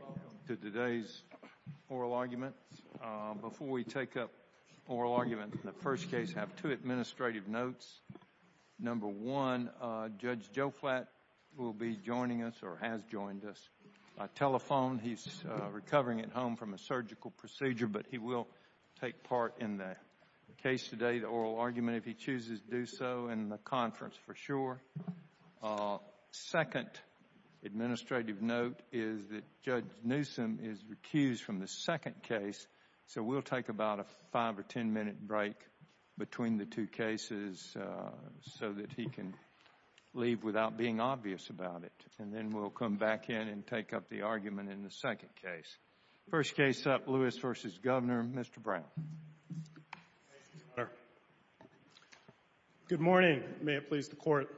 Welcome to today's oral argument. Before we take up oral argument in the first case, I have two administrative notes. Number one, Judge Joflat will be joining us or has joined us by telephone. He's recovering at home from a surgical procedure, but he will take part in the case today, the oral argument, if he chooses to do so, in the conference, for sure. Second administrative note is that Judge Newsom is recused from the second case, so we'll take about a five or ten minute break between the two cases so that he can leave without being obvious about it. And then we'll come back in and take up the argument in the first case. Judge Joflat. Thank you, Your Honor. Good morning. May it please the Court.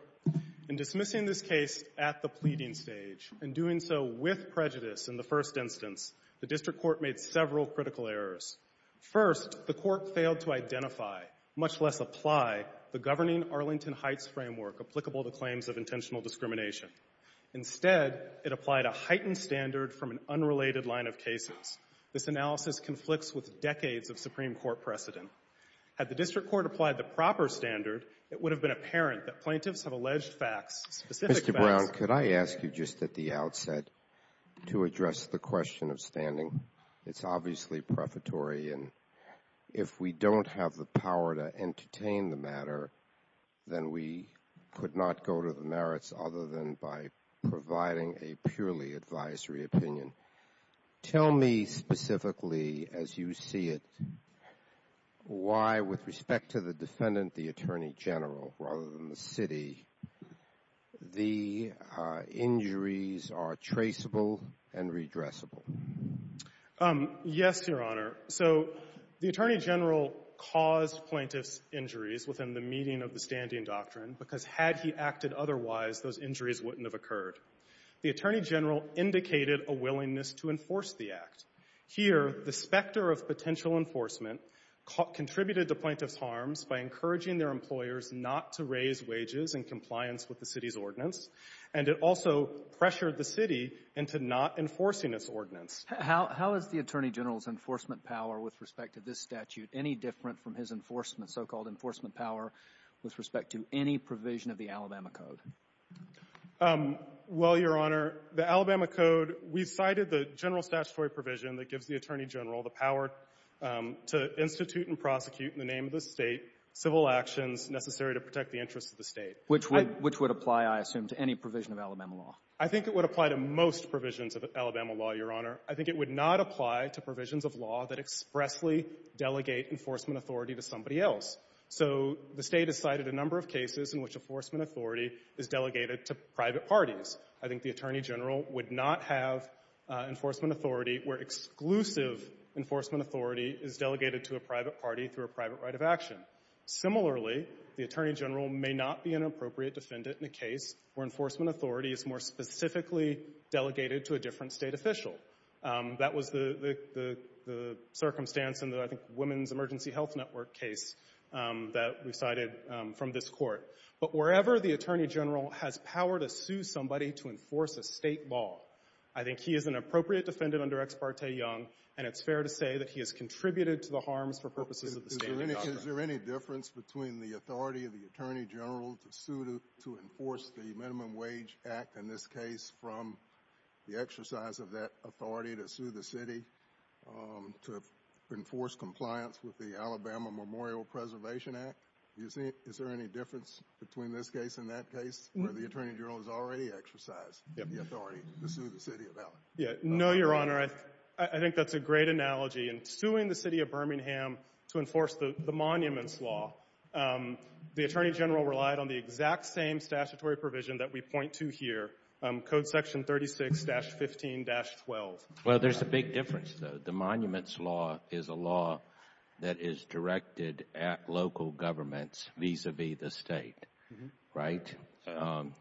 In dismissing this case at the pleading stage and doing so with prejudice in the first instance, the district court made several critical errors. First, the court failed to identify, much less apply, the governing Arlington Heights framework applicable to claims of intentional discrimination. Instead, it applied a heightened standard from an unrelated line of cases. This analysis conflicts with decades of Supreme Court precedent. Had the district court applied the proper standard, it would have been apparent that plaintiffs have alleged facts, specific facts. Mr. Brown, could I ask you just at the outset to address the question of standing? It's obviously prefatory, and if we don't have the power to entertain the matter, then we could not go to the merits other than by providing a purely advisory opinion. Tell me specifically, as you see it, why, with respect to the defendant, the attorney general rather than the city, the injuries are traceable and redressable. Yes, Your Honor. So the attorney general caused plaintiffs' injuries within the meaning of the standing doctrine, because had he acted otherwise, those injuries wouldn't have occurred. The attorney general indicated a willingness to enforce the act. Here, the specter of potential enforcement contributed to plaintiffs' harms by encouraging their employers not to raise wages in compliance with the city's ordinance, and it also pressured the city into not enforcing its ordinance. How is the attorney general's enforcement power with respect to this statute any different from his enforcement, so-called enforcement power, with respect to any provision of the Alabama Code? Well, Your Honor, the Alabama Code, we've cited the general statutory provision that gives the attorney general the power to institute and prosecute in the name of the State civil actions necessary to protect the interests of the State. Which would apply, I assume, to any provision of Alabama law? I think it would apply to most provisions of Alabama law, Your Honor. I think it would not apply to provisions of law that expressly delegate enforcement authority to somebody else. So the State has cited a number of cases in which enforcement authority is delegated to private parties. I think the attorney general would not have enforcement authority where exclusive enforcement authority is delegated to a private party through a private right of action. Similarly, the attorney general may not be an appropriate defendant in a case where enforcement authority is specifically delegated to a different State official. That was the circumstance in the, I think, Women's Emergency Health Network case that we cited from this Court. But wherever the attorney general has power to sue somebody to enforce a State law, I think he is an appropriate defendant under Ex parte Young, and it's fair to say that he has contributed to the harms for purposes of the State of Alabama. Is there any difference between the authority of the attorney general to sue to enforce the Minimum Wage Act, in this case, from the exercise of that authority to sue the City to enforce compliance with the Alabama Memorial Preservation Act? Is there any difference between this case and that case where the attorney general has already exercised the authority to sue the City of Alabama? No, Your Honor. I think that's a great analogy. In suing the City of Birmingham to enforce the Monuments Law, the attorney general relied on the exact same statutory provision that we point to here, Code Section 36-15-12. Well, there's a big difference, though. The Monuments Law is a law that is directed at local governments vis-à-vis the State, right?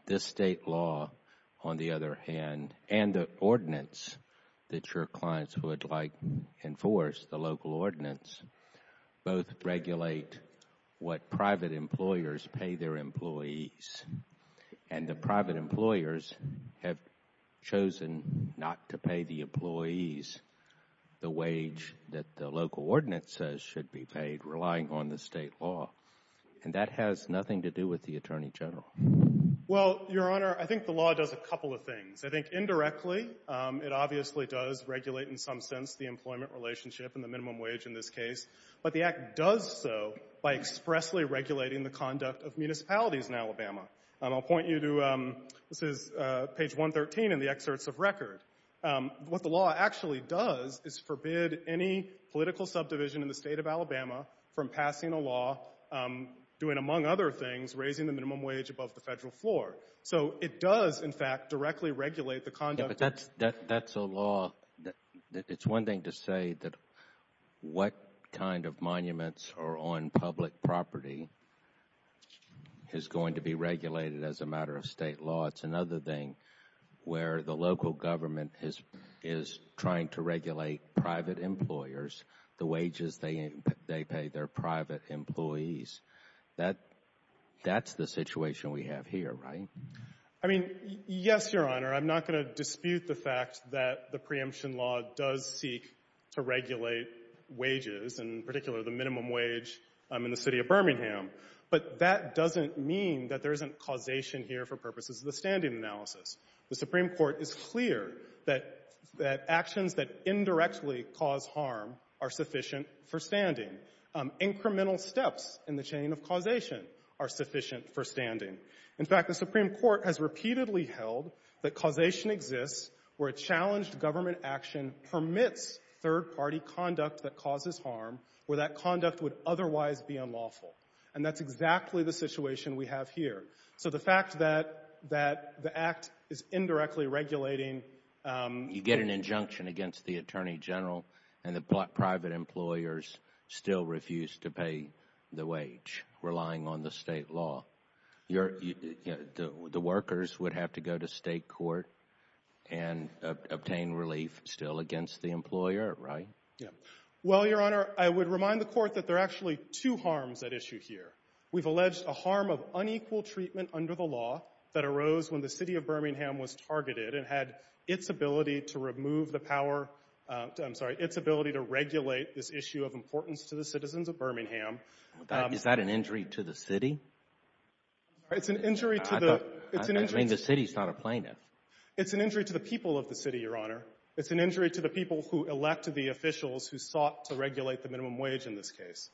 This State law, on the other hand, and the clients who would, like, enforce the local ordinance, both regulate what private employers pay their employees, and the private employers have chosen not to pay the employees the wage that the local ordinance says should be paid, relying on the State law. And that has nothing to do with the attorney general. Well, Your Honor, I think the law does a couple of things. I think, indirectly, it obviously does regulate, in some sense, the employment relationship and the minimum wage in this case, but the Act does so by expressly regulating the conduct of municipalities in Alabama. I'll point you to, this is page 113 in the excerpts of record. What the law actually does is forbid any political subdivision in the State of Alabama from passing a law doing, among other things, raising the minimum wage above the Federal floor. So it does, in fact, directly regulate the conduct of the State. But the law, it's one thing to say that what kind of monuments are on public property is going to be regulated as a matter of State law. It's another thing where the local government is trying to regulate private employers, the wages they pay their private employees. That's the situation we have here, right? I mean, yes, Your Honor. I'm not going to dispute the fact that the preemption law does seek to regulate wages, and in particular, the minimum wage in the City of Birmingham. But that doesn't mean that there isn't causation here for purposes of the standing analysis. The Supreme Court is clear that actions that indirectly cause harm are sufficient for standing. Incremental steps in the chain of causation are sufficient for standing. In fact, the Supreme Court has repeatedly held that causation exists where a challenged government action permits third-party conduct that causes harm, where that conduct would otherwise be unlawful. And that's exactly the situation we have here. So the fact that the Act is indirectly regulating You get an injunction against the Attorney General, and the private employers still refuse to pay the wage, relying on the state law. The workers would have to go to state court and obtain relief still against the employer, right? Well, Your Honor, I would remind the Court that there are actually two harms at issue here. We've alleged a harm of unequal treatment under the law that arose when the City of Birmingham was targeted and had its ability to remove the power, I'm sorry, its ability to regulate this issue of importance to the citizens of Birmingham. Is that an injury to the City? It's an injury to the I mean, the City is not a plaintiff. It's an injury to the people of the City, Your Honor. It's an injury to the people who elected the officials who sought to regulate the minimum wage in this case.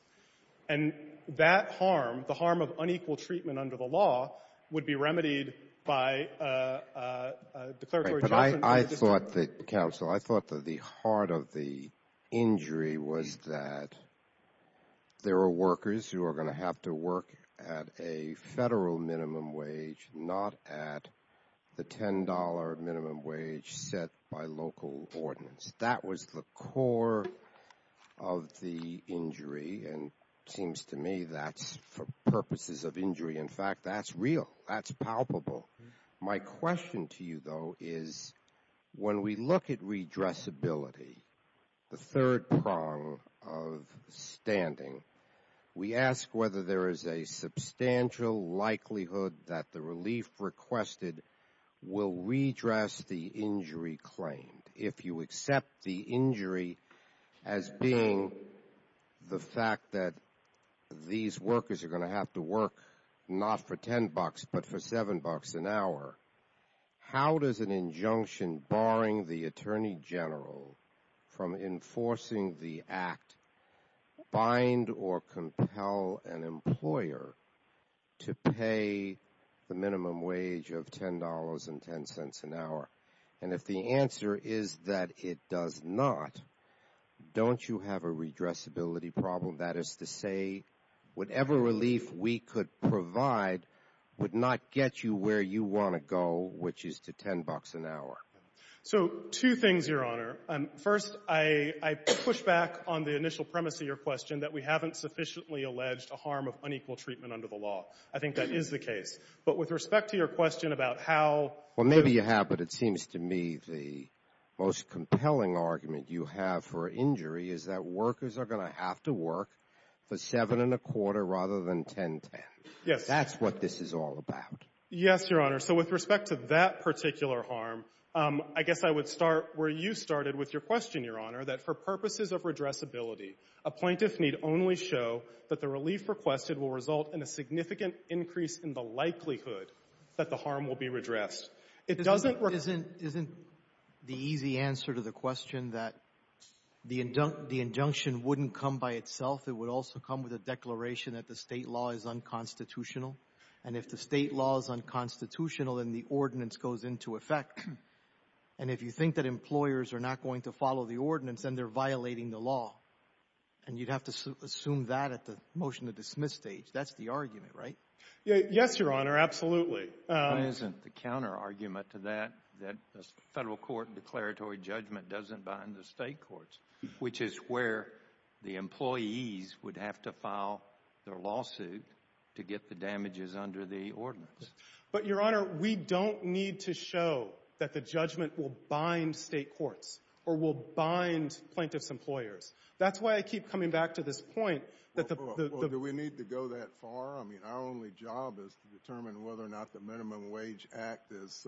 And that harm, the harm of unequal treatment under the law, would be remedied by a declaratory judgment But I thought that, Counsel, I thought that the heart of the injury was that there were workers who are going to have to work at a federal minimum wage, not at the $10 minimum wage set by local ordinance. That was the core of the injury, and it seems to me that's for purposes of injury. In fact, that's real. That's palpable. My question to you, though, is when we look at redressability, the third prong of standing, we ask whether there is a substantial likelihood that the relief requested will redress the injury claimed. If you accept the injury as being the fact that these workers are going to have to work, not for $10, but for $7 an hour, how does an injunction barring the Attorney General from enforcing the Act bind or compel an employer to pay the minimum wage of $10.10 an hour? And if the answer is that it does not, don't you have a redressability problem? That is to say, whatever relief we could provide would not get you where you want to go, which is to $10 an hour. So two things, Your Honor. First, I push back on the initial premise of your question that we haven't sufficiently alleged a harm of unequal treatment under the law. I think that is the case. But with respect to your question about how the ---- most compelling argument you have for injury is that workers are going to have to work for $7.25 rather than $10.10. Yes. That's what this is all about. Yes, Your Honor. So with respect to that particular harm, I guess I would start where you started with your question, Your Honor, that for purposes of redressability, a plaintiff need only show that the relief requested will result in a significant increase in the likelihood that the harm will be redressed. It doesn't ---- Isn't the easy answer to the question that the injunction wouldn't come by itself. It would also come with a declaration that the State law is unconstitutional. And if the State law is unconstitutional, then the ordinance goes into effect. And if you think that employers are not going to follow the ordinance, then they're violating the law. And you'd have to assume that at the motion to dismiss stage. That's the argument, right? Yes, Your Honor. Absolutely. Isn't the counterargument to that, that the federal court declaratory judgment doesn't bind the State courts, which is where the employees would have to file their lawsuit to get the damages under the ordinance. But, Your Honor, we don't need to show that the judgment will bind State courts or will bind plaintiff's employers. That's why I keep coming back to this point that the ---- Do we need to go that far? I mean, our only job is to determine whether or not the Minimum Wage Act is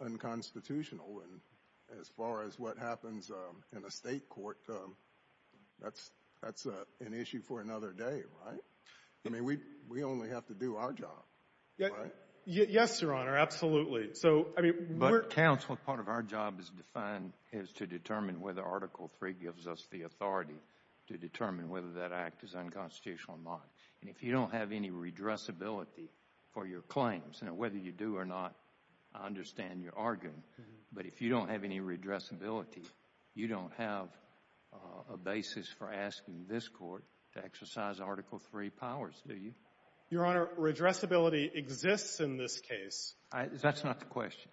unconstitutional. And as far as what happens in a State court, that's an issue for another day, right? I mean, we only have to do our job, right? Yes, Your Honor. Absolutely. So, I mean, we're ---- But, counsel, part of our job is to determine whether Article III gives us the authority to determine whether that act is unconstitutional or not. And if you don't have any redressability for your claims, and whether you do or not, I understand you're arguing, but if you don't have any redressability, you don't have a basis for asking this Court to exercise Article III powers, do you? Your Honor, redressability exists in this case. That's not the question.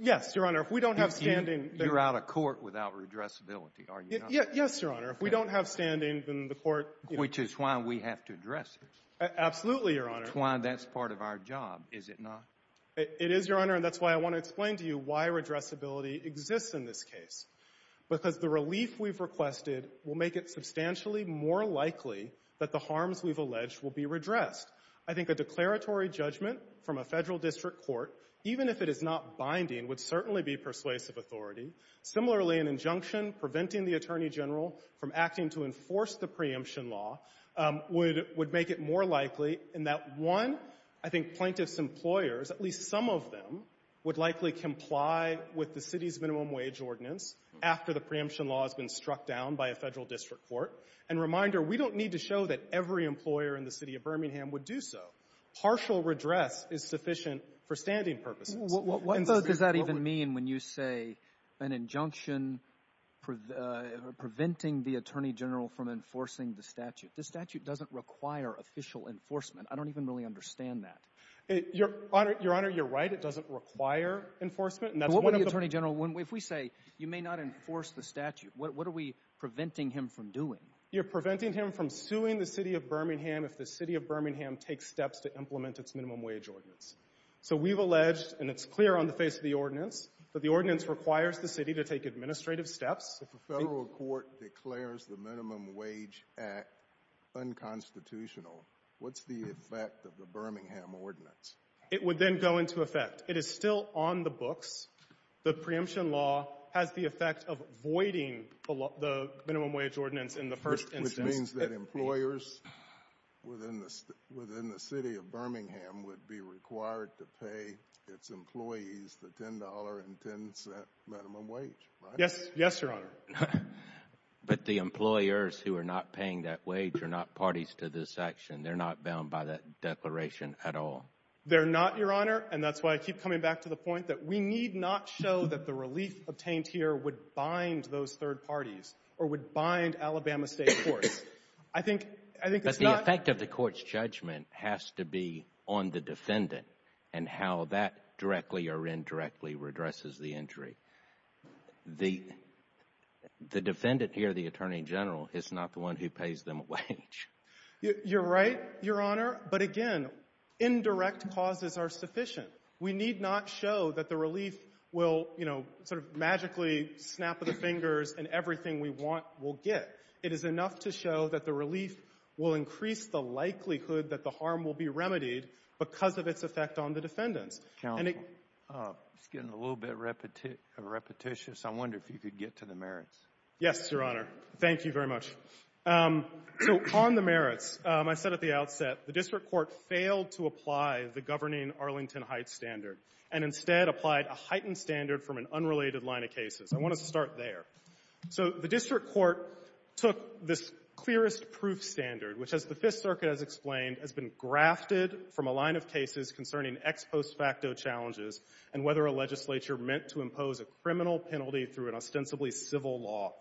Yes, Your Honor. If we don't have standing ---- You're out of court without redressability, are you not? Yes, Your Honor. If we don't have standing, then the Court ---- Which is why we have to address it. Absolutely, Your Honor. It's why that's part of our job, is it not? It is, Your Honor. And that's why I want to explain to you why redressability exists in this case. Because the relief we've requested will make it substantially more likely that the harms we've alleged will be redressed. I think a declaratory judgment from a Federal district court, even if it is not binding, would certainly be persuasive authority. Similarly, an injunction preventing the Attorney General from acting to enforce the preemption law would make it more likely in that, one, I think plaintiff's employers, at least some of them, would likely comply with the city's minimum wage ordinance after the preemption law has been struck down by a Federal district court. And reminder, we don't need to show that every employer in the City of Birmingham would do so. Partial redress is sufficient for standing purposes. What does that even mean when you say an injunction preventing the Attorney General from enforcing the statute? The statute doesn't require official enforcement. I don't even really understand that. Your Honor, you're right. It doesn't require enforcement. But what would the Attorney General, if we say you may not enforce the statute, what are we preventing him from doing? You're preventing him from suing the City of Birmingham if the City of Birmingham takes steps to implement its minimum wage ordinance. So we've alleged, and it's clear on the face of the ordinance, that the ordinance requires the City to take administrative steps. If a Federal court declares the Minimum Wage Act unconstitutional, what's the effect of the Birmingham ordinance? It would then go into effect. It is still on the books. The preemption law has the effect of voiding the minimum wage ordinance in the first instance. Which means that employers within the City of Birmingham would be required to pay its employees the $10.10 minimum wage, right? Yes, Your Honor. But the employers who are not paying that wage are not parties to this action. They're not bound by that declaration at all. They're not, Your Honor. And that's why I keep coming back to the point that we need not show that the relief obtained here would bind those third parties or would bind Alabama State courts. I think it's not But the effect of the court's judgment has to be on the defendant and how that directly or indirectly redresses the injury. The defendant here, the Attorney General, is not the one who pays them a wage. You're right, Your Honor. But again, indirect causes are sufficient. We need not show that the relief will, you know, sort of magically snap the fingers and everything we want will get. It is enough to show that the relief will increase the likelihood that the harm will be remedied because of its effect on the defendants. Counsel, it's getting a little bit repetitious. I wonder if you could get to the merits. Yes, Your Honor. Thank you very much. So on the merits, I said at the outset, the district court failed to apply the governing Arlington Heights standard and instead applied a heightened standard from an unrelated line of cases. I want to start there. So the district court took this clearest proof standard, which, as the Fifth Circuit has explained, has been grafted from a line of cases concerning ex post facto challenges and whether a legislature meant to impose a criminal penalty through an ostensibly civil law.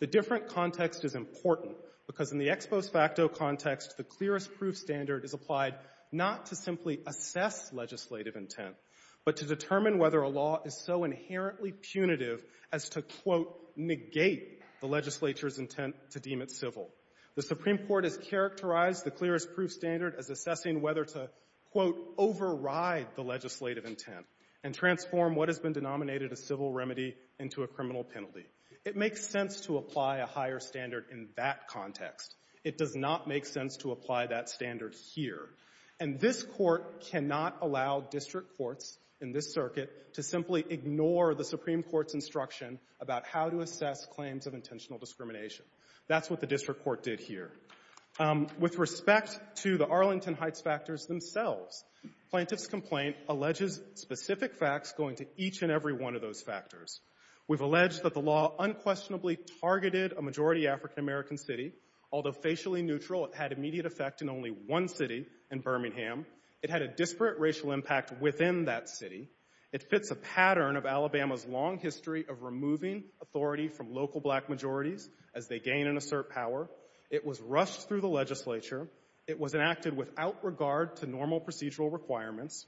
The different context is important because in the ex post facto context, the clearest proof standard is applied not to simply assess legislative intent, but to determine whether a law is so inherently punitive as to, quote, negate the legislature's intent to deem it civil. The Supreme Court has characterized the clearest proof standard as assessing whether to, quote, override the legislative intent and transform what has been denominated a civil remedy into a criminal penalty. It makes sense to apply a higher standard in that context. It does not make sense to apply that standard here. And this Court cannot allow district courts in this circuit to simply ignore the Supreme Court's instruction about how to assess claims of intentional discrimination. That's what the district court did here. With respect to the Arlington Heights factors themselves, Plaintiff's Complaint alleges specific facts going to each and every one of those factors. We've alleged that the law unquestionably targeted a majority African American city. Although facially neutral, it had immediate effect in only one city in Birmingham. It had a disparate racial impact within that city. It fits a pattern of Alabama's long history of removing authority from local black majorities as they gain and assert power. It was rushed through the legislature. It was enacted without regard to normal procedural requirements.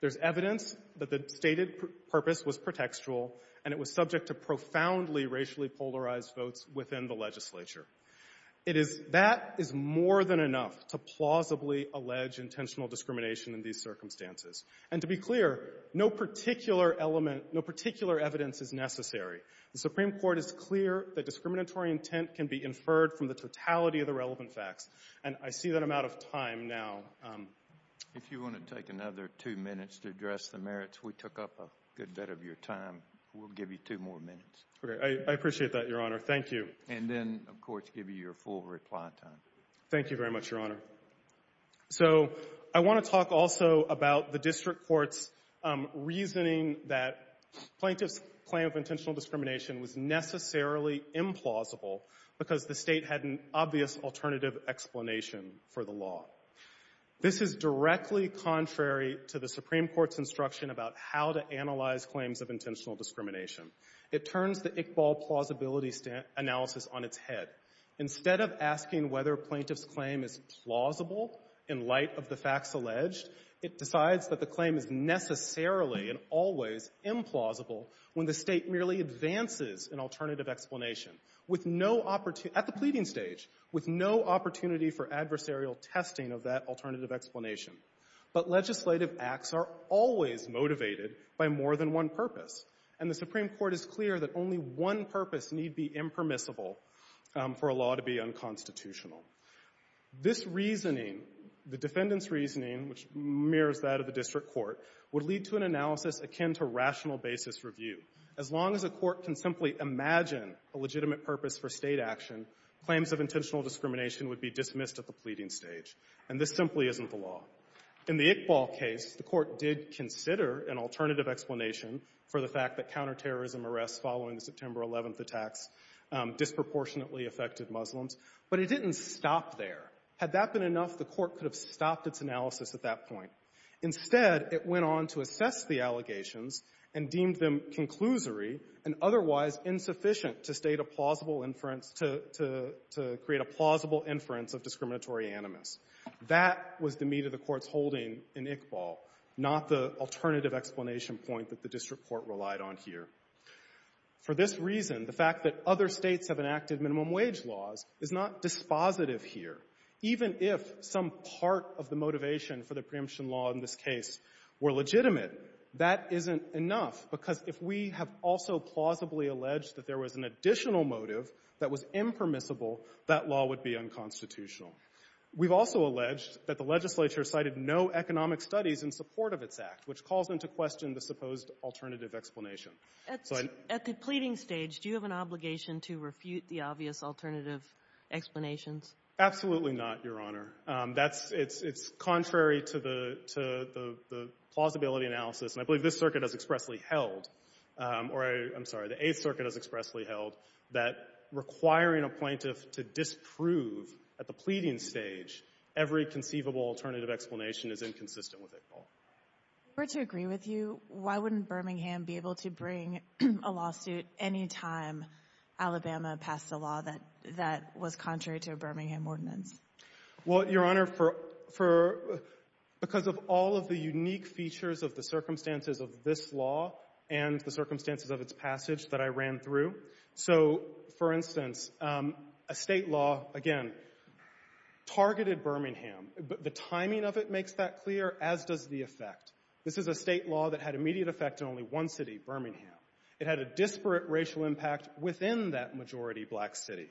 There's evidence that the stated purpose was pretextual, and it was subject to profoundly racially polarized votes within the legislature. It is — that is more than enough to plausibly allege intentional discrimination in these circumstances. And to be clear, no particular element — no particular evidence is necessary. The Supreme Court is clear that discriminatory intent can be inferred from the totality of the relevant facts. And I see that I'm out of time now. If you want to take another two minutes to address the merits, we took up a good bit of your time. We'll give you two more minutes. Okay. I appreciate that, Your Honor. Thank you. And then, of course, give you your full reply time. Thank you very much, Your Honor. So I want to talk also about the district court's reasoning that Plaintiff's Claim of Intentional Discrimination was necessarily implausible because the State had an obvious alternative explanation for the law. This is directly contrary to the Supreme Court's instruction about how to analyze claims of intentional discrimination. It turns the Iqbal plausibility analysis on its head. Instead of asking whether Plaintiff's Claim is plausible in light of the facts alleged, it decides that the claim is necessarily and always implausible when the State merely advances an alternative explanation with no opportunity at the pleading stage, with no opportunity for adversarial testing of that alternative explanation. But legislative acts are always motivated by more than one purpose. And the Supreme Court is clear that only one purpose need be impermissible for a law to be unconstitutional. This reasoning, the defendant's reasoning, which mirrors that of the district court, would lead to an analysis akin to rational basis review. As long as a court can simply imagine a legitimate purpose for State action, claims of intentional discrimination would be dismissed at the pleading stage. And this simply isn't the law. In the Iqbal case, the court did consider an alternative explanation for the fact that counterterrorism arrests following the September 11th attacks disproportionately affected Muslims. But it didn't stop there. Had that been enough, the court could have stopped its analysis at that point. Instead, it went on to assess the allegations and deemed them conclusory and otherwise insufficient to create a plausible inference of discriminatory animus. That was the meat of the court's holding in Iqbal, not the alternative explanation point that the district court relied on here. For this reason, the fact that other states have enacted minimum wage laws is not dispositive here. Even if some part of the motivation for the preemption law in this case were legitimate, that isn't enough, because if we have also plausibly alleged that there was an additional motive that was impermissible, that law would be unconstitutional. We've also alleged that the legislature cited no economic studies in support of its which calls into question the supposed alternative explanation. So I — At the pleading stage, do you have an obligation to refute the obvious alternative explanations? Absolutely not, Your Honor. That's — it's contrary to the plausibility analysis. And I believe this circuit has expressly held — or I'm sorry, the Eighth Circuit has expressly held that requiring a plaintiff to disprove at the pleading stage every conceivable alternative explanation is inconsistent with Iqbal. If we're to agree with you, why wouldn't Birmingham be able to bring a lawsuit any time Alabama passed a law that was contrary to a Birmingham ordinance? Well, Your Honor, for — because of all of the unique features of the circumstances of this law and the circumstances of its passage that I ran through. So, for instance, a state law, again, targeted Birmingham. The timing of it makes that clear, as does the effect. This is a state law that had immediate effect in only one city, Birmingham. It had a disparate racial impact within that majority black city.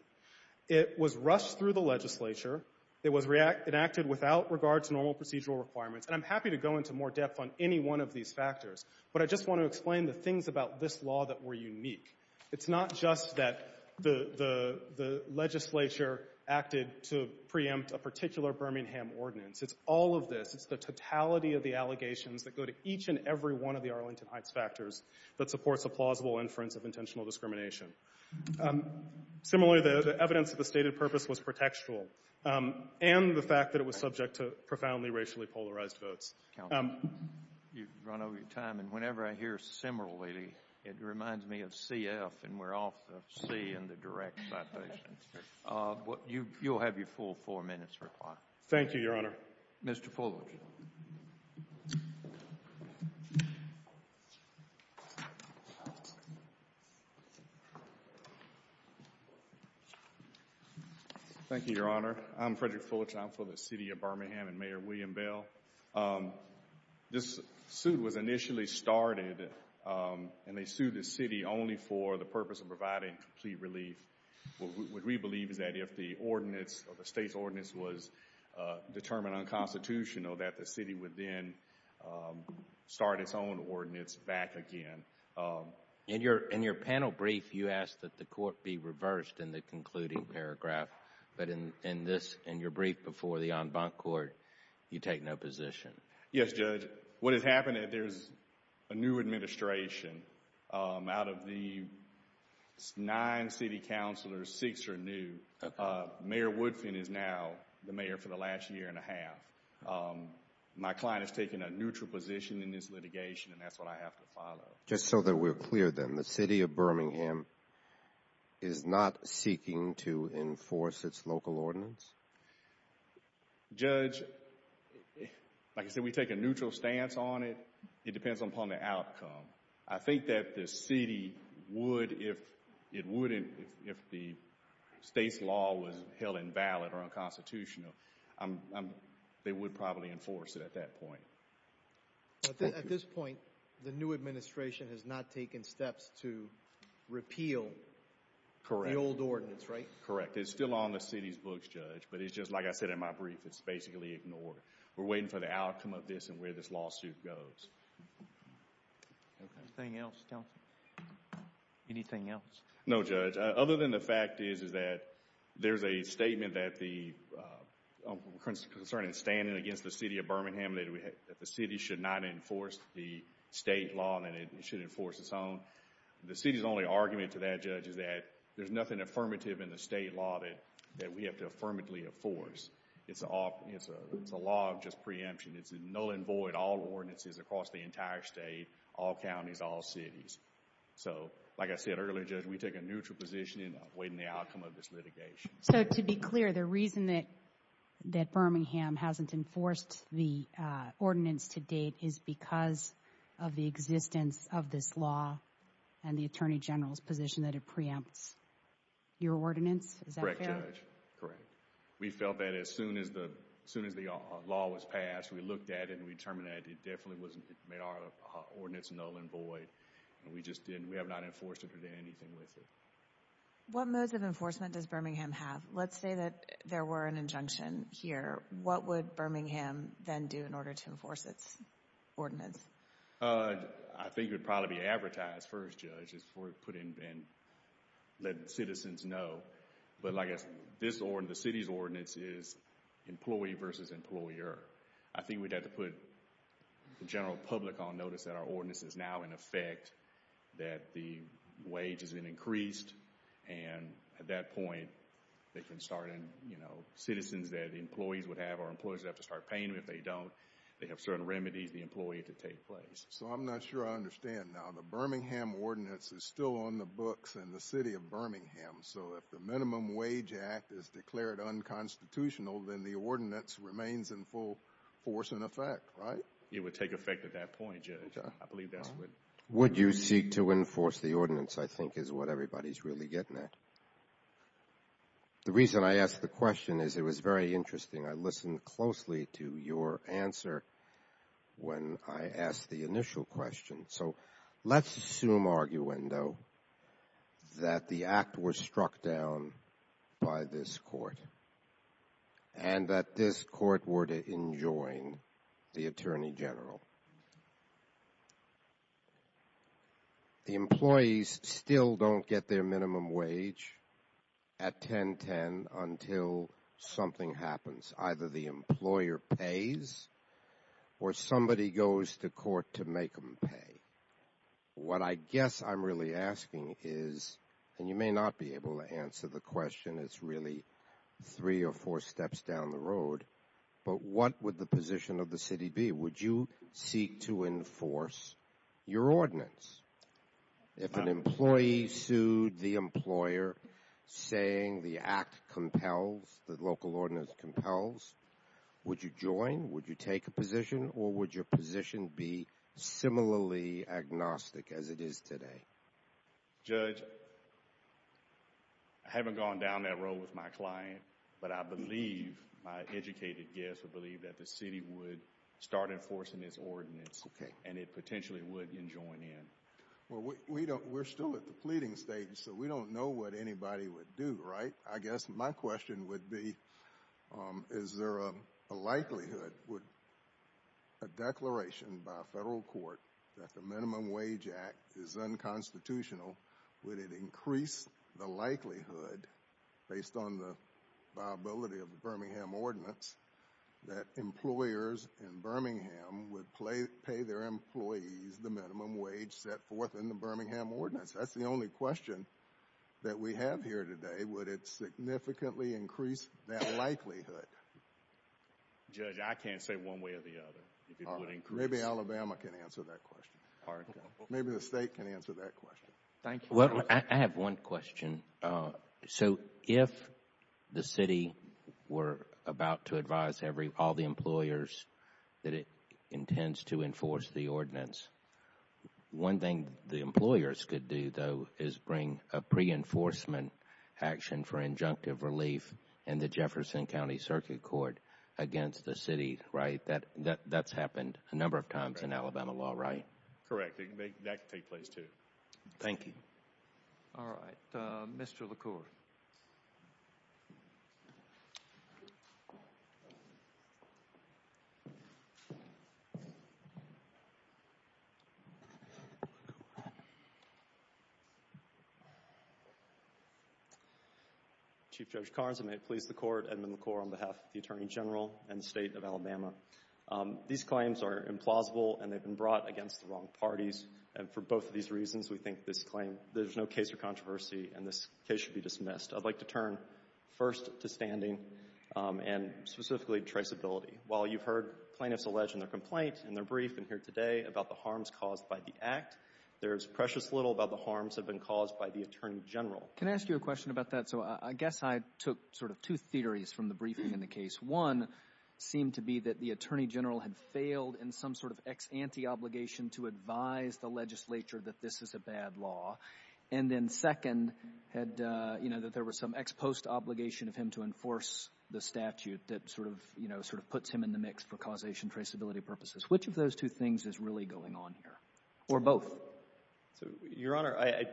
It was rushed through the legislature. It was enacted without regard to normal procedural requirements. And I'm happy to go into more depth on any one of these factors, but I just want to explain the things about this law that were unique. It's not just that the legislature acted to preempt a particular Birmingham ordinance. It's all of this. It's the totality of the allegations that go to each and every one of the Arlington Heights factors that supports a plausible inference of intentional discrimination. Similarly, the evidence of the stated purpose was pretextual, and the fact that it was subject to profoundly racially polarized votes. You've run over your time, and whenever I hear similarly, it reminds me of CF, and we're off of C and the direct citation. You'll have your full four minutes required. Thank you, Your Honor. Mr. Fulich. Thank you, Your Honor. I'm Frederick Fulich. I'm for the city of Birmingham and Mayor William Bell. This suit was initially started, and they sued the city only for the purpose of providing complete relief. What we believe is that if the ordinance, or the state's ordinance, was determined unconstitutional, that the city would then start its own ordinance back again. In your panel brief, you asked that the court be reversed in the concluding paragraph, but in this, in your brief before the en banc court, you take no position. Yes, Judge. What has happened is there's a new administration out of the nine city counselors, six are new. Mayor Woodfin is now the mayor for the last year and a half. My client has taken a neutral position in this litigation, and that's what I have to follow. Just so that we're clear then, the city of Birmingham is not seeking to enforce its local ordinance? Judge, like I said, we take a neutral stance on it. It depends upon the outcome. I think that the city would, if it wouldn't, if the state's law was held invalid or unconstitutional, they would probably enforce it at that point. At this point, the new administration has not taken steps to repeal the old ordinance, right? Correct. It's still on the city's books, Judge, but it's just, like I said in my brief, it's basically ignored. We're waiting for the outcome of this and where this lawsuit goes. Anything else, Counselor? Anything else? No, Judge. Other than the fact is that there's a statement concerning standing against the city of Birmingham that the city should not enforce the state law and it should enforce its own. The city's only argument to that, Judge, is that there's nothing affirmative in the state law that we have to affirmatively enforce. It's a law of just preemption. It's null and void all ordinances across the entire state, all counties, all cities. So like I said earlier, Judge, we take a neutral position in awaiting the outcome of this litigation. So to be clear, the reason that Birmingham hasn't enforced the ordinance to date is because of the existence of this law and the Attorney General's position that it preempts your ordinance? Is that fair? Correct, Judge. Correct. We felt that as soon as the law was passed, we looked at it and we determined that it definitely made our ordinance null and void. We have not enforced it or done anything with it. What modes of enforcement does Birmingham have? Let's say that there were an injunction here. What would Birmingham then do in order to enforce its ordinance? I think it would probably be advertised first, Judge, before we put it in and let citizens know. But like I said, this ordinance, the city's ordinance, is employee versus employer. I think we'd have to put the general public on notice that our ordinance is now in effect, that the wage has been increased, and at that point, they can start, you know, citizens that employees would have, our employees would have to start paying them if they don't. They have certain remedies, the employee, to take place. So I'm not sure I understand now. The Birmingham ordinance is still on the books in the city of Birmingham. So if the Minimum Wage Act is declared unconstitutional, then the ordinance remains in full force and effect, right? It would take effect at that point, Judge. I believe that's what... Would you seek to enforce the ordinance, I think is what everybody's really getting at. The reason I asked the question is it was very interesting. I listened closely to your answer when I asked the initial question. So let's assume, arguendo, that the act was struck down by this court and that this court enjoined the Attorney General. The employees still don't get their minimum wage at 10.10 until something happens. Either the employer pays or somebody goes to court to make them pay. What I guess I'm really asking is, and you may not be able to answer the question, it's really three or four steps down the road, but what would the position of the city be? Would you seek to enforce your ordinance? If an employee sued the employer saying the act compels, the local ordinance compels, would you join? Would you take a position? Or would your position be similarly agnostic as it is today? Judge, I haven't gone down that road with my client, but I believe my educated guests would believe that the city would start enforcing its ordinance and it potentially would enjoin in. Well, we're still at the pleading stage, so we don't know what anybody would do, right? I guess my question would be, is there a likelihood, a declaration by a federal court that the would it increase the likelihood, based on the viability of the Birmingham Ordinance, that employers in Birmingham would pay their employees the minimum wage set forth in the Birmingham Ordinance? That's the only question that we have here today. Would it significantly increase that likelihood? Judge, I can't say one way or the other. Maybe Alabama can answer that question. Maybe the state can answer that question. Thank you. Well, I have one question. So if the city were about to advise all the employers that it intends to enforce the ordinance, one thing the employers could do, though, is bring a pre-enforcement action for injunctive relief in the Jefferson County Circuit Court against the city, right? That's happened a number of times in Alabama law, right? Correct. That could take place, too. Thank you. All right. Mr. LaCour. Chief Judge Carson, may it please the Court, Edmund LaCour on behalf of the Attorney General and the State of Alabama. These claims are implausible and they've been brought against the wrong parties. And for both of these reasons, we think this claim, there's no case of controversy and this case should be dismissed. I'd like to turn first to standing and specifically traceability. While you've heard plaintiffs allege in their complaint, in their brief, and here today about the harms caused by the act, there's precious little about the harms that have been caused by the Attorney General. Can I ask you a question about that? So I guess I took sort of two theories from the briefing in the case. One seemed to be that the Attorney General had failed in some sort of ex ante obligation to advise the legislature that this is a bad law. And then second had, you know, that there was some ex post obligation of him to enforce the statute that sort of, you know, sort of puts him in the mix for causation traceability purposes. Which of those two things is really going on here? Or both? Your Honor, I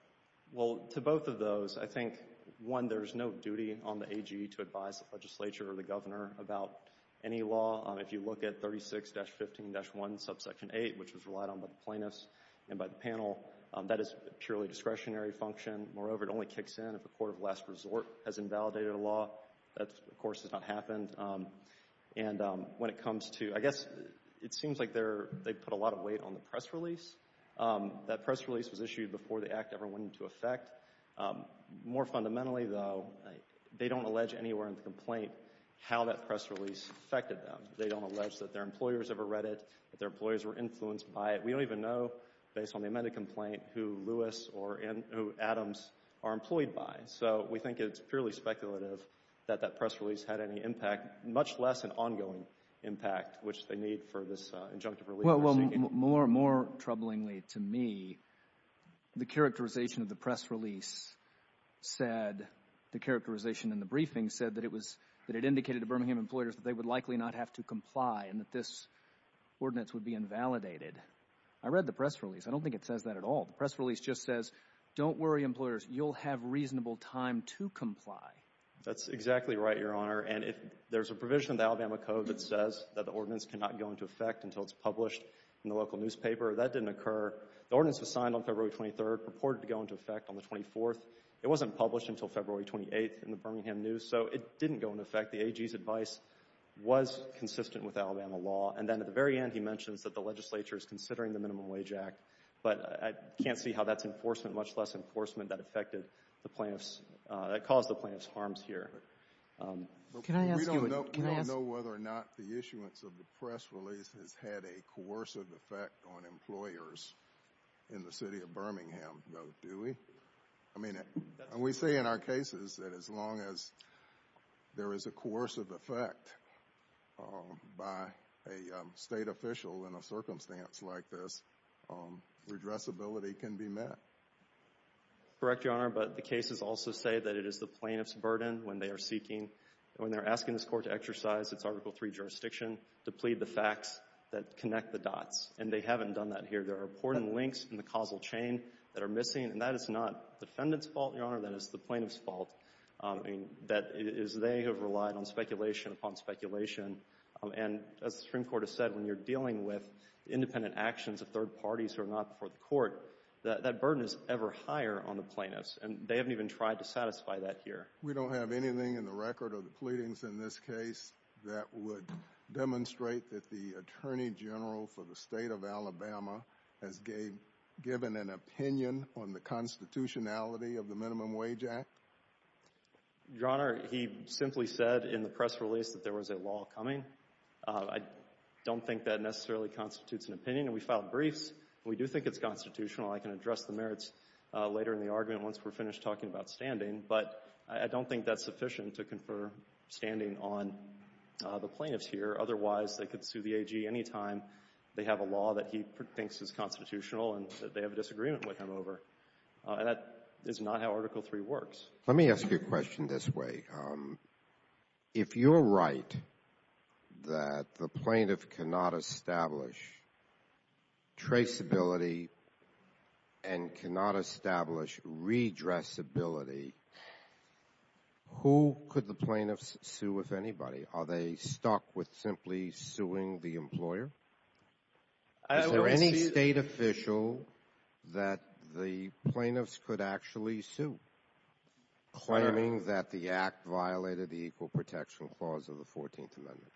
— well, to both of those, I think, one, there's no duty on the AG to tell the governor about any law. If you look at 36-15-1, subsection 8, which was relied on by the plaintiffs and by the panel, that is a purely discretionary function. Moreover, it only kicks in if a court of last resort has invalidated a law. That, of course, has not happened. And when it comes to — I guess it seems like they put a lot of weight on the press release. That press release was issued before the act ever went into effect. More fundamentally, though, they don't allege anywhere in the complaint how that press release affected them. They don't allege that their employers ever read it, that their employers were influenced by it. We don't even know, based on the amended complaint, who Lewis or who Adams are employed by. So we think it's purely speculative that that press release had any impact, much less an ongoing impact, which they need for this injunctive relief. Well, more troublingly to me, the characterization of the press release said — the characterization in the briefing said that it was — that it indicated to Birmingham employers that they would likely not have to comply and that this ordinance would be invalidated. I read the press release. I don't think it says that at all. The press release just says, don't worry, employers, you'll have reasonable time to comply. That's exactly right, Your Honor. And if there's a provision in the Alabama Code that says that the ordinance cannot go into effect until it's published in the local newspaper, that didn't occur. The ordinance was signed on February 23rd, purported to go into effect on the 24th. It wasn't published until February 28th in the Birmingham News, so it didn't go into effect. The AG's advice was consistent with Alabama law. And then at the very end, he mentions that the legislature is considering the Minimum Wage Act. But I can't see how that's enforcement, much less enforcement that affected the plaintiffs — that caused the plaintiffs' harms here. We don't know whether or not the issuance of the press release has had a coercive effect on employers in the city of Birmingham, though, do we? I mean, we say in our cases that as long as there is a coercive effect by a state official in a circumstance like this, redressability can be met. Correct, Your Honor, but the cases also say that it is the plaintiffs' burden when they are seeking — when they're asking this Court to exercise its Article III jurisdiction to plead the facts that connect the dots. And they haven't done that here. There are important links in the causal chain that are missing, and that is not the defendant's fault, Your Honor. That is the plaintiffs' fault. I mean, that is — they have relied on speculation upon speculation. And as the Supreme Court has said, when you're dealing with independent actions of third parties who are not before the Court, that burden is ever higher on the plaintiffs. And they haven't even tried to satisfy that here. We don't have anything in the record of the pleadings in this case that would demonstrate that the Attorney General for the State of Alabama has given an opinion on the constitutionality of the Minimum Wage Act? Your Honor, he simply said in the press release that there was a law coming. I don't think that necessarily constitutes an opinion, and we filed briefs. We do think it's constitutional. I can address the merits later in the argument once we're finished talking about standing. But I don't think that's sufficient to confer standing on the plaintiffs here. Otherwise, they could sue the AG any time they have a law that he thinks is constitutional and that they have a disagreement with him over. And that is not how Article III works. Let me ask you a question this way. If you're right that the plaintiff cannot establish traceability and cannot establish redressability, who could the plaintiffs sue, if anybody? Are they stuck with simply suing the employer? Is there any state official that the plaintiffs could actually sue, claiming that the Act violated the Equal Protection Clause of the 14th Amendment?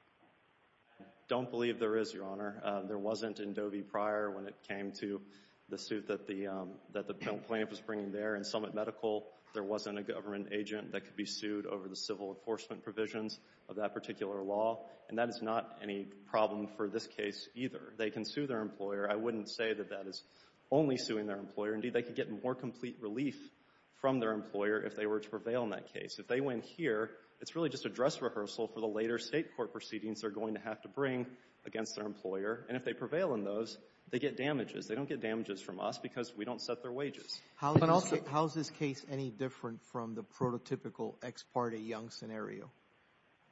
Don't believe there is, Your Honor. There wasn't in Doe v. Pryor when it came to the suit that the plaintiff was bringing there. In Summit Medical, there wasn't a government agent that could be sued over the civil enforcement provisions of that particular law, and that is not any problem for this case either. They can sue their employer. I wouldn't say that that is only suing their employer. Indeed, they could get more complete relief from their employer if they were to prevail in that case. If they win here, it's really just a dress rehearsal for the later State court proceedings they're going to have to bring against their employer. And if they prevail in those, they get damages. They don't get damages from us because we don't set their wages. But also, how is this case any different from the prototypical Ex parte Young scenario?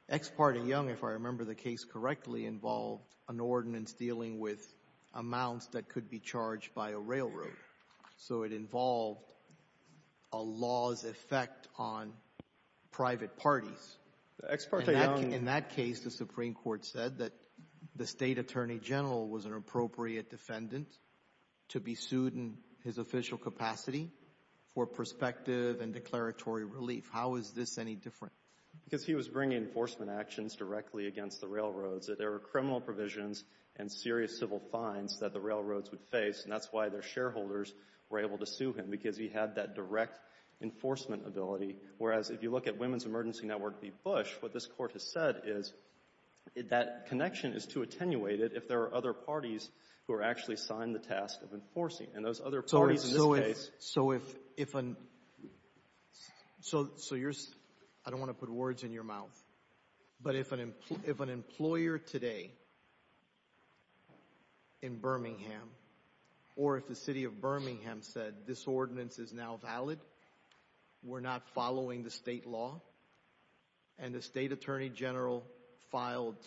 Ex parte Young, if I remember the case correctly, involved an ordinance dealing with amounts that could be charged by a railroad. So it involved a law's effect on private parties. In that case, the Supreme Court said that the State Attorney General was an appropriate defendant to be sued in his official capacity for prospective and declaratory relief. How is this any different? Because he was bringing enforcement actions directly against the railroads. There were criminal provisions and serious civil fines that the railroads would face, and that's why their shareholders were able to sue him, because he had that direct enforcement ability. Whereas, if you look at Women's Emergency Network v. Bush, what this court has said is that connection is too attenuated if there are other parties who are actually assigned the task of enforcing. And those other parties in this case— So if—I don't want to put words in your mouth. But if an employer today in Birmingham, or if the city of Birmingham said this ordinance is now valid, we're not following the state law, and the State Attorney General filed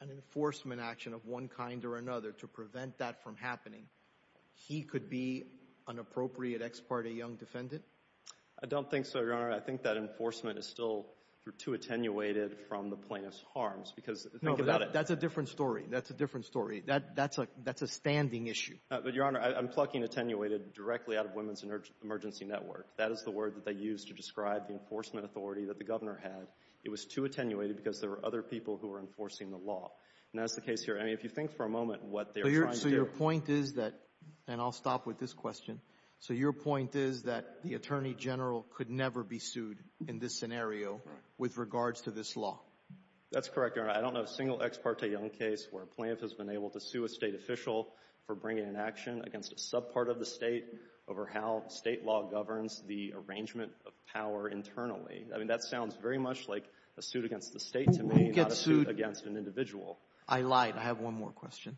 an enforcement action of one kind or another to prevent that from happening, he could be an appropriate ex parte young defendant? I don't think so, Your Honor. I think that enforcement is still too attenuated from the plaintiff's harms, because— No, but that's a different story. That's a different story. That's a standing issue. But, Your Honor, I'm plucking attenuated directly out of Women's Emergency Network. That is the word that they used to describe the enforcement authority that the governor had. It was too attenuated because there were other people who were enforcing the law. And that's the case here. I mean, if you think for a moment what they're trying to do— So your point is that—and I'll stop with this question. So your point is that the Attorney General could never be sued in this scenario with regards to this law? That's correct, Your Honor. I don't know of a single ex parte young case where a plaintiff has been able to sue a state official for bringing an action against a subpart of the state over how state law governs the arrangement of power internally. I mean, that sounds very much like a suit against the state to me, not a suit against an individual. I lied. I have one more question.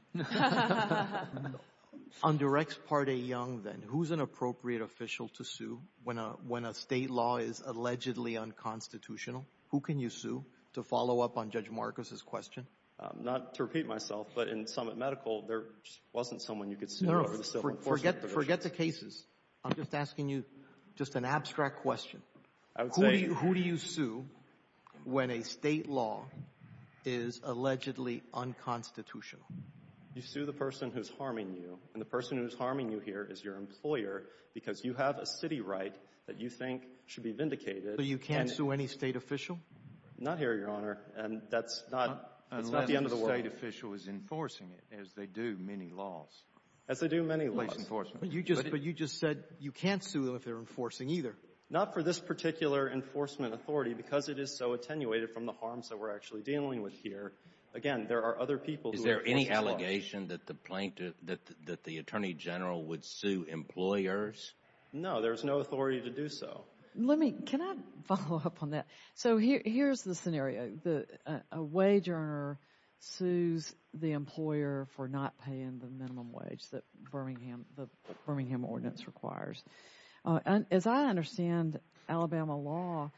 On directs parte young, then, who's an appropriate official to sue when a state law is allegedly unconstitutional? Who can you sue to follow up on Judge Marcus's question? Not to repeat myself, but in Summit Medical, there wasn't someone you could sue over the civil enforcement division. No, no. Forget the cases. I'm just asking you just an abstract question. I would say— Who do you sue when a state law is allegedly unconstitutional? You sue the person who's harming you, and the person who's harming you here is your employer because you have a city right that you think should be vindicated and— So you can't sue any state official? Not here, Your Honor. And that's not the end of the world. Unless the state official is enforcing it, as they do many laws. As they do many laws. But you just said you can't sue them if they're enforcing either. Not for this particular enforcement authority, because it is so attenuated from the harms that we're actually dealing with here. Again, there are other people who are— Is there any allegation that the plaintiff, that the Attorney General would sue employers? No, there's no authority to do so. Let me, can I follow up on that? So here's the scenario. A wage earner sues the employer for not paying the minimum wage that Birmingham, the Birmingham ordinance requires. As I understand Alabama law,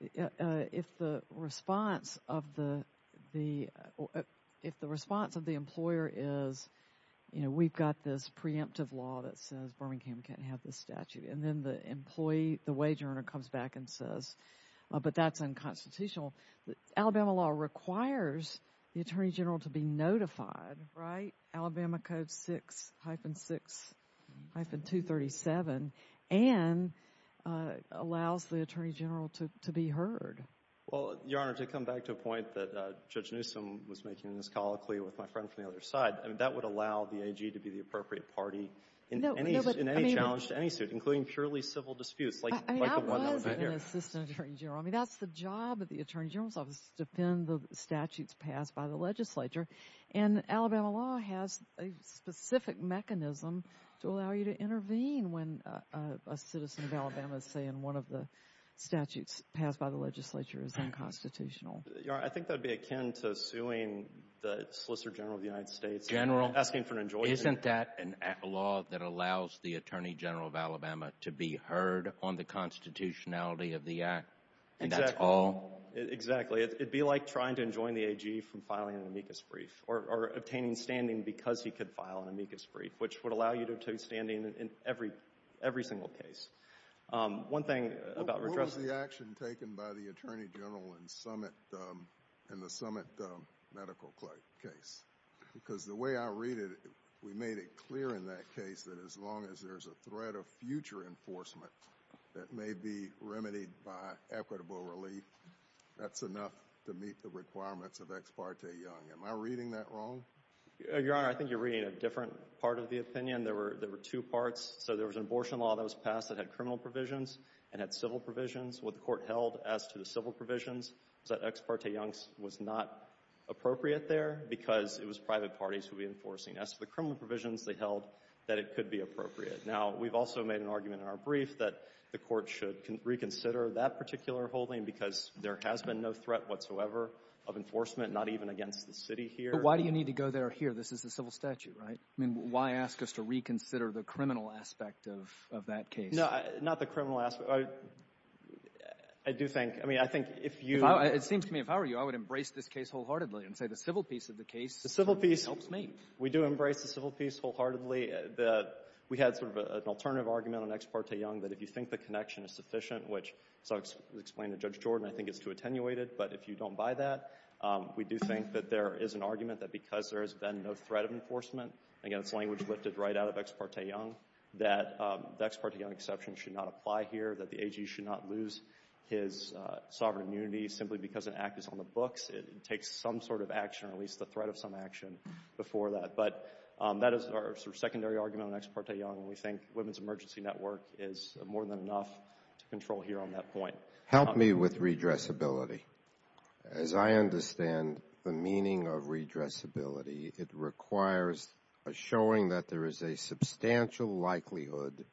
if the response of the, if the response of the employer is, you know, we've got this preemptive law that says Birmingham can't have this statute, and then the employee, the wage earner comes back and says, but that's unconstitutional. Alabama law requires the Attorney General to be notified, right? Alabama Code 6, hyphen 6, hyphen 237, and allows the Attorney General to be heard. Well, Your Honor, to come back to a point that Judge Newsom was making in his colloquy with my friend from the other side, I mean, that would allow the AG to be the appropriate party in any, in any challenge to any suit, including purely civil disputes, like the one that was right here. I mean, I was an assistant Attorney General. I mean, that's the job of the Attorney General's office, to defend the statutes passed by the legislature, and Alabama law has a specific mechanism to allow you to intervene when a citizen of Alabama is saying one of the statutes passed by the legislature is unconstitutional. Your Honor, I think that would be akin to suing the Solicitor General of the United States. General? Asking for an injunction. Isn't that a law that allows the Attorney General of Alabama to be heard on the constitutionality of the act? Exactly. And that's all? Exactly. It'd be like trying to enjoin the AG from filing an amicus brief, or obtaining standing because he could file an amicus brief, which would allow you to obtain standing in every single case. One thing about redressal. What was the action taken by the Attorney General in the Summit medical case? Because the way I read it, we made it clear in that case that as long as there's a threat of future enforcement that may be remedied by equitable relief, that's enough to meet the requirements of Ex parte Young. Am I reading that wrong? Your Honor, I think you're reading a different part of the opinion. There were two parts. So there was an abortion law that was passed that had criminal provisions and had civil provisions. What the court held as to the civil provisions was that Ex parte Young's was not appropriate there because it was private parties who would be enforcing it. As to the criminal provisions, they held that it could be appropriate. Now, we've also made an argument in our brief that the court should reconsider that particular holding because there has been no threat whatsoever of enforcement, not even against the city here. But why do you need to go there or here? This is a civil statute, right? I mean, why ask us to reconsider the criminal aspect of that case? Not the criminal aspect. I do think, I mean, I think if you— It seems to me, if I were you, I would embrace this case wholeheartedly and say the civil piece of the case— The civil piece— —helps me. We do embrace the civil piece wholeheartedly. We had sort of an alternative argument on Ex parte Young that if you think the connection is sufficient, which, as I've explained to Judge Jordan, I think it's too attenuated, but if you don't buy that, we do think that there is an argument that because there has been no threat of enforcement, again, it's language lifted right out of Ex parte Young, that the Ex parte Young exception should not apply here, that the AG should not lose his sovereign immunity simply because an act is on the books. It takes some sort of action, or at least the threat of some action, before that. But that is our sort of secondary argument on Ex parte Young, and we think Women's Emergency Network is more than enough to control here on that point. Help me with redressability. As I understand the meaning of redressability, it requires a showing that there is a substantial likelihood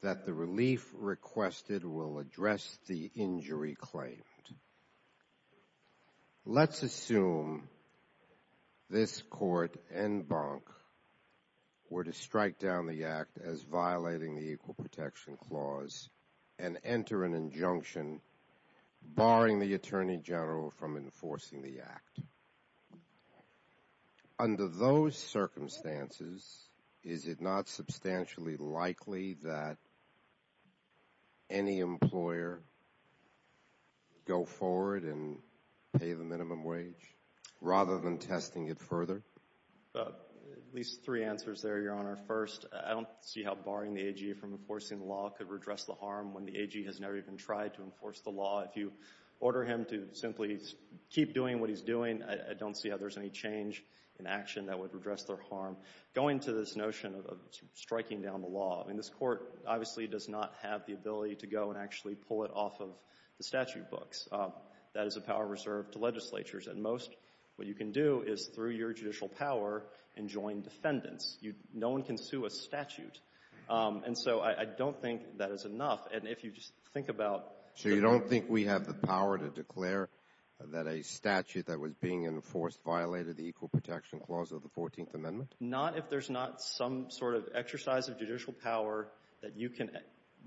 that the relief requested will address the injury claimed. Let's assume this Court and Bonk were to strike down the Act as violating the Equal Protection Clause and enter an injunction barring the Attorney General from enforcing the Act. Under those circumstances, is it not substantially likely that any employer go forward and pay the minimum wage rather than testing it further? At least three answers there, Your Honor. First, I don't see how barring the AG from enforcing the law could redress the harm when the AG has never even tried to enforce the law. If you order him to simply keep doing what he's doing, I don't see how there's any change in action that would redress their harm. Going to this notion of striking down the law, I mean, this Court obviously does not have the ability to go and actually pull it off of the statute books. That is a power reserved to legislatures, and most, what you can do is, through your judicial power, enjoin defendants. No one can sue a statute. And so I don't think that is enough. And if you just think about — So you don't think we have the power to declare that a statute that was being enforced violated the Equal Protection Clause of the 14th Amendment? Not if there's not some sort of exercise of judicial power that you can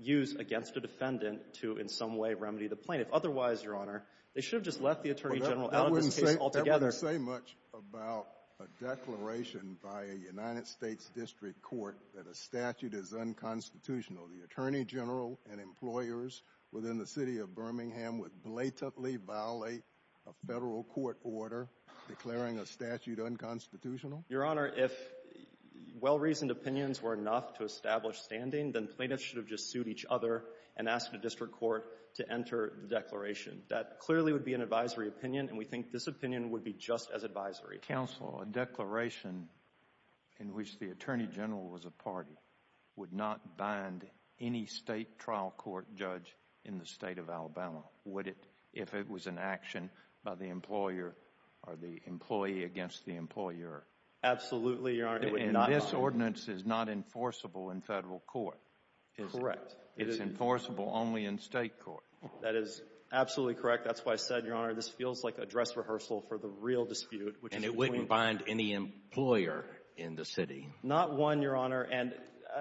use against a defendant to, in some way, remedy the plaintiff. Otherwise, Your Honor, they should have just left the Attorney General out of this case altogether. That wouldn't say much about a declaration by a United States district court that a statute is unconstitutional. So the Attorney General and employers within the city of Birmingham would blatantly violate a federal court order declaring a statute unconstitutional? Your Honor, if well-reasoned opinions were enough to establish standing, then plaintiffs should have just sued each other and asked the district court to enter the declaration. That clearly would be an advisory opinion, and we think this opinion would be just as advisory. Counsel, a declaration in which the Attorney General was a party would not bind any state trial court judge in the state of Alabama, would it, if it was an action by the employer or the employee against the employer? Absolutely, Your Honor, it would not bind. And this ordinance is not enforceable in federal court, is it? Correct. It's enforceable only in state court. That is absolutely correct. That's why I said, Your Honor, this feels like a dress rehearsal for the real dispute, And it wouldn't bind any employer in the city? Not one, Your Honor, and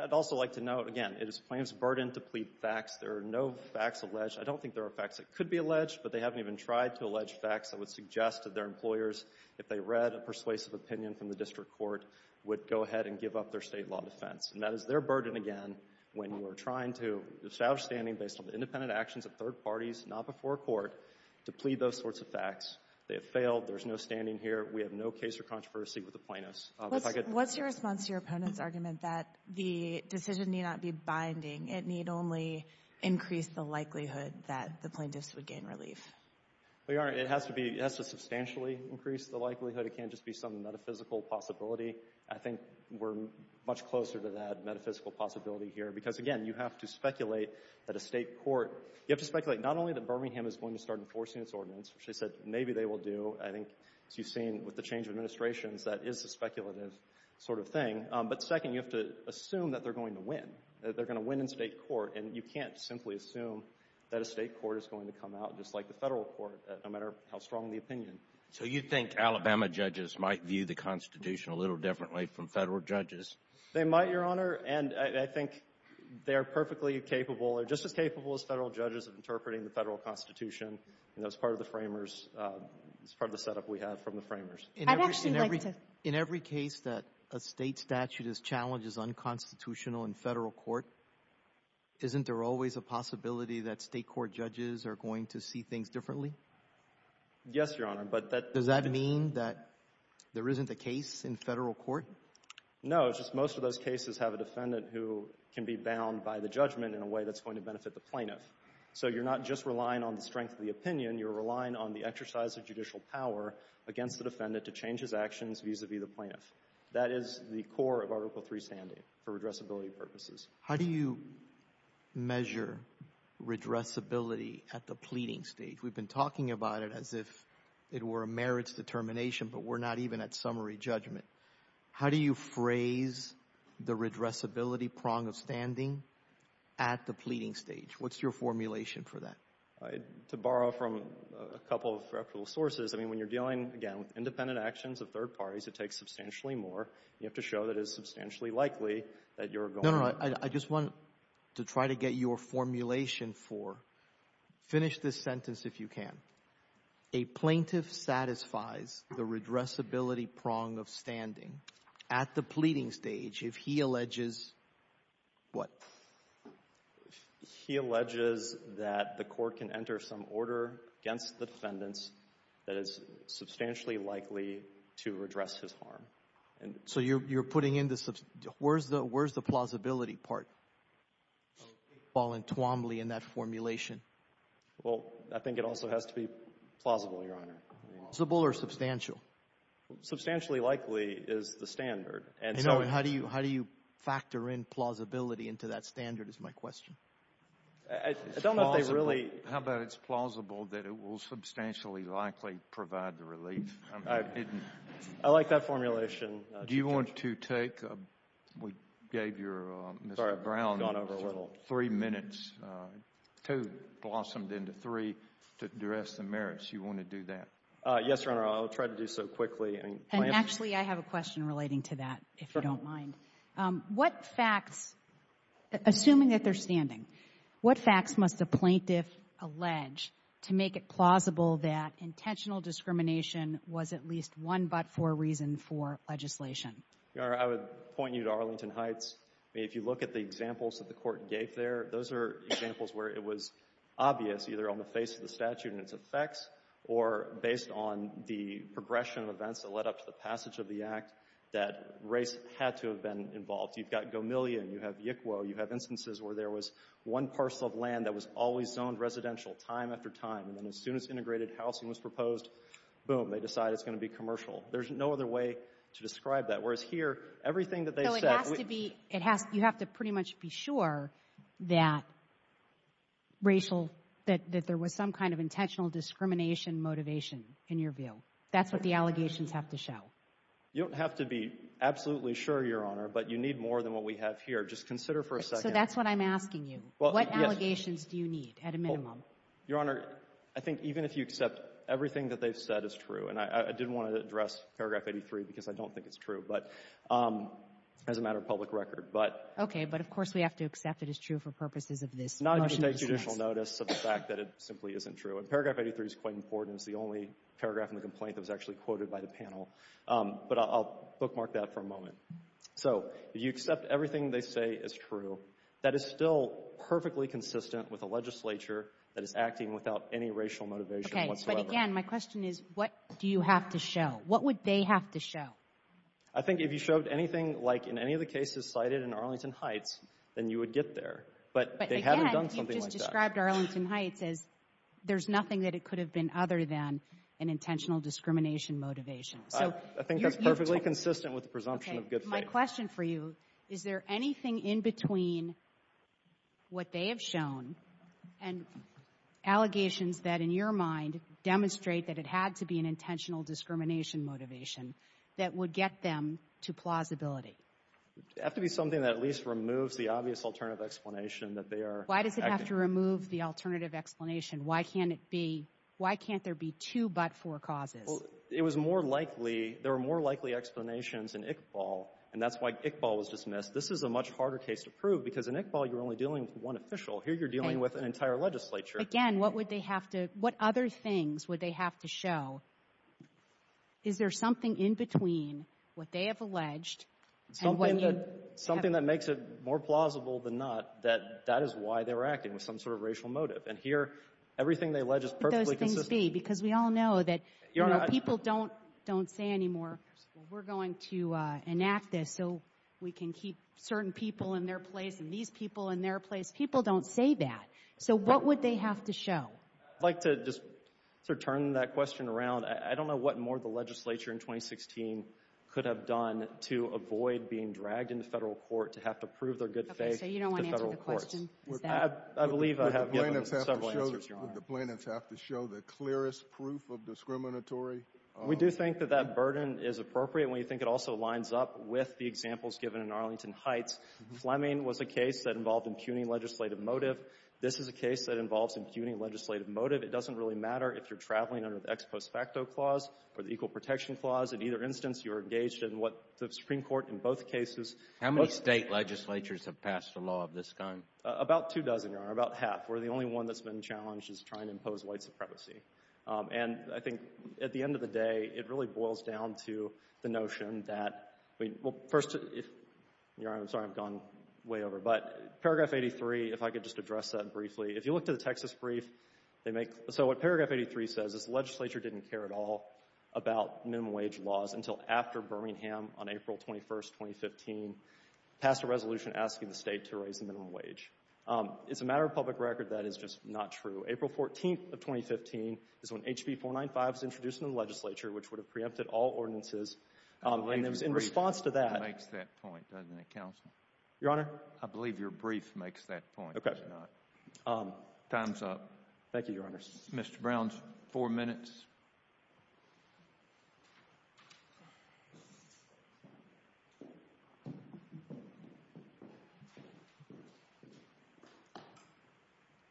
I'd also like to note, again, it is plaintiff's burden to plead facts. There are no facts alleged. I don't think there are facts that could be alleged, but they haven't even tried to allege facts that would suggest that their employers, if they read a persuasive opinion from the district court, would go ahead and give up their state law defense. And that is their burden, again, when we're trying to establish standing based on independent actions of third parties, not before a court, to plead those sorts of facts. They have failed. There's no standing here. We have no case or controversy with the plaintiffs. What's your response to your opponent's argument that the decision need not be binding? It need only increase the likelihood that the plaintiffs would gain relief? Well, Your Honor, it has to be, it has to substantially increase the likelihood. It can't just be some metaphysical possibility. I think we're much closer to that metaphysical possibility here. Because again, you have to speculate that a state court, you have to speculate not only that Birmingham is going to start enforcing its ordinance, which they said maybe they will do. I think, as you've seen with the change of administrations, that is a speculative sort of thing. But second, you have to assume that they're going to win, that they're going to win in state court. And you can't simply assume that a state court is going to come out just like the federal court, no matter how strong the opinion. So you think Alabama judges might view the Constitution a little differently from federal judges? They might, Your Honor. And I think they are perfectly capable or just as capable as federal judges of interpreting the federal Constitution. You know, it's part of the framers, it's part of the setup we have from the framers. In every case that a state statute is challenged as unconstitutional in federal court, isn't there always a possibility that state court judges are going to see things differently? Yes, Your Honor. But does that mean that there isn't a case in federal court? No. It's just most of those cases have a defendant who can be bound by the judgment in a way that's going to benefit the plaintiff. So you're not just relying on the strength of the opinion, you're relying on the exercise of judicial power against the defendant to change his actions vis-a-vis the plaintiff. That is the core of Article III standing for redressability purposes. How do you measure redressability at the pleading stage? We've been talking about it as if it were a merits determination, but we're not even at summary judgment. How do you phrase the redressability prong of standing at the pleading stage? What's your formulation for that? To borrow from a couple of reputable sources, I mean, when you're dealing, again, with independent actions of third parties, it takes substantially more. You have to show that it's substantially likely that you're going to be able to do that. No, no, I just want to try to get your formulation for, finish this sentence if you can. A plaintiff satisfies the redressability prong of standing at the pleading stage if he alleges what? He alleges that the court can enter some order against the defendants that is substantially likely to redress his harm. So you're putting in the, where's the plausibility part? Well, I think it also has to be plausible, Your Honor. Plausible or substantial? Substantially likely is the standard. How do you factor in plausibility into that standard is my question. I don't know if they really. How about it's plausible that it will substantially likely provide the relief? I like that formulation. Do you want to take, we gave your, Mr. Brown, three minutes, two blossomed into three to address the merits. You want to do that? Yes, Your Honor, I'll try to do so quickly. Actually, I have a question relating to that, if you don't mind. What facts, assuming that they're standing, what facts must a plaintiff allege to make it plausible that intentional discrimination was at least one but for a reason for legislation? Your Honor, I would point you to Arlington Heights. If you look at the examples that the court gave there, those are examples where it was obvious either on the face of the statute and its effects or based on the progression of events that led up to the passage of the act that race had to have been involved. You've got Gomillion, you have Yickwo, you have instances where there was one parcel of land that was always zoned residential, time after time. And then as soon as integrated housing was proposed, boom, they decide it's going to be commercial. There's no other way to describe that. Whereas here, everything that they said. No, it has to be, you have to pretty much be sure that racial, that there was some kind of intentional discrimination motivation in your view. That's what the allegations have to show. You don't have to be absolutely sure, Your Honor, but you need more than what we have here. Just consider for a second. So that's what I'm asking you. What allegations do you need at a minimum? Your Honor, I think even if you accept everything that they've said is true, and I didn't want to address paragraph 83 because I don't think it's true, but as a matter of public record, but. Okay, but of course we have to accept it is true for purposes of this motion. I take judicial notice of the fact that it simply isn't true. And paragraph 83 is quite important. It's the only paragraph in the complaint that was actually quoted by the panel. But I'll bookmark that for a moment. So if you accept everything they say is true, that is still perfectly consistent with a legislature that is acting without any racial motivation whatsoever. Okay, but again, my question is, what do you have to show? What would they have to show? I think if you showed anything like in any of the cases cited in Arlington Heights, then you would get there. But again, he just described Arlington Heights as there's nothing that it could have been other than an intentional discrimination motivation. I think that's perfectly consistent with the presumption of good faith. My question for you, is there anything in between what they have shown and allegations that in your mind demonstrate that it had to be an intentional discrimination motivation that would get them to plausibility? It would have to be something that at least removes the obvious alternative explanation that they are acting. Why does it have to remove the alternative explanation? Why can't there be two but four causes? It was more likely, there were more likely explanations in Iqbal, and that's why Iqbal was dismissed. This is a much harder case to prove because in Iqbal, you're only dealing with one official. Here, you're dealing with an entire legislature. Again, what other things would they have to show? Is there something in between what they have alleged and when you have... That is why they were acting, with some sort of racial motive. And here, everything they allege is perfectly consistent. What would those things be? Because we all know that people don't say anymore, we're going to enact this so we can keep certain people in their place and these people in their place. People don't say that. So what would they have to show? I'd like to just sort of turn that question around. I don't know what more the legislature in 2016 could have done to avoid being dragged into federal court to have to prove their good faith. So you don't want to answer the question? I believe I have given several answers, Your Honor. Would the plaintiffs have to show the clearest proof of discriminatory... We do think that that burden is appropriate when you think it also lines up with the examples given in Arlington Heights. Fleming was a case that involved impugning legislative motive. This is a case that involves impugning legislative motive. It doesn't really matter if you're traveling under the ex post facto clause or the equal protection clause. In either instance, you're engaged in what the Supreme Court in both cases... How many state legislatures have passed a law of this kind? About two dozen, Your Honor. About half. We're the only one that's been challenged as trying to impose white supremacy. And I think at the end of the day, it really boils down to the notion that... Well, first... Your Honor, I'm sorry. I've gone way over. But paragraph 83, if I could just address that briefly. If you look to the Texas brief, they make... So what paragraph 83 says is the legislature didn't care at all about minimum wage laws until after Birmingham on April 21st, 2015, passed a resolution asking the state to raise the minimum wage. It's a matter of public record that it's just not true. April 14th of 2015 is when HB 495 was introduced into the legislature, which would have preempted all ordinances. And in response to that... I believe your brief makes that point, doesn't it, counsel? Your Honor? I believe your brief makes that point, does it not? Okay. Time's up. Thank you, Your Honors. Mr. Brown, four minutes.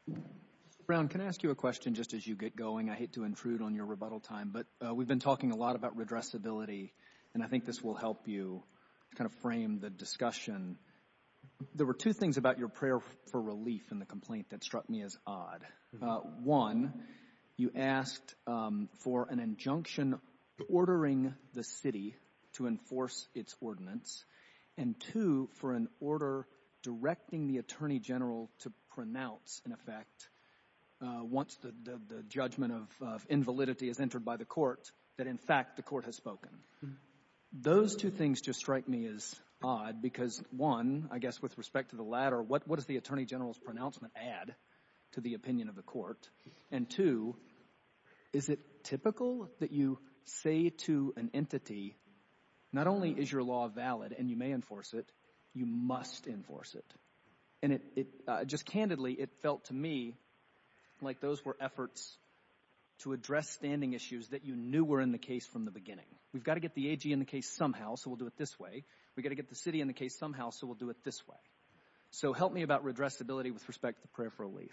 Mr. Brown, can I ask you a question just as you get going? I hate to intrude on your rebuttal time, but we've been talking a lot about redressability, and I think this will help you kind of frame the discussion. There were two things about your prayer for relief in the complaint that struck me as odd. One, you asked for an injunction ordering the city to enforce its ordinance, and two, for an order directing the attorney general to pronounce, in effect, once the judgment of invalidity is entered by the court, that in fact the court has spoken. Those two things just strike me as odd because, one, I guess with respect to the latter, what does the attorney general's pronouncement add to the opinion of the court? And two, is it typical that you say to an entity, not only is your law valid and you may enforce it, you must enforce it? And just candidly, it felt to me like those were efforts to address standing issues that you knew were in the case from the beginning. We've got to get the AG in the case somehow, so we'll do it this way. We've got to get the city in the case somehow, so we'll do it this way. So help me about addressability with respect to the prayer for relief.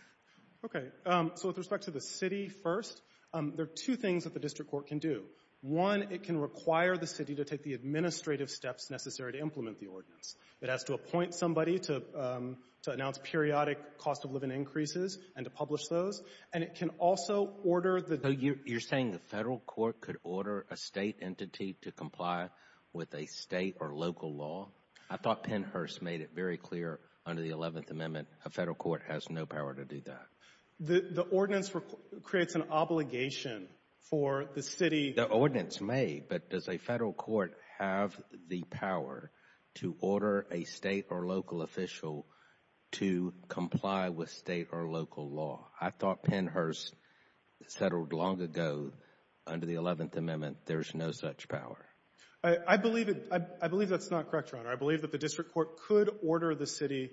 Okay, so with respect to the city first, there are two things that the district court can do. One, it can require the city to take the administrative steps necessary to implement the ordinance. It has to appoint somebody to announce periodic cost of living increases and to publish those, and it can also order the So you're saying the federal court could order a state entity to comply with a state or local law? I thought Pennhurst made it very clear under the 11th Amendment, a federal court has no power to do that. The ordinance creates an obligation for the city. The ordinance may, but does a federal court have the power to order a state or local official to comply with state or local law? I believe that's not correct, Your Honor. I believe that the district court could order the city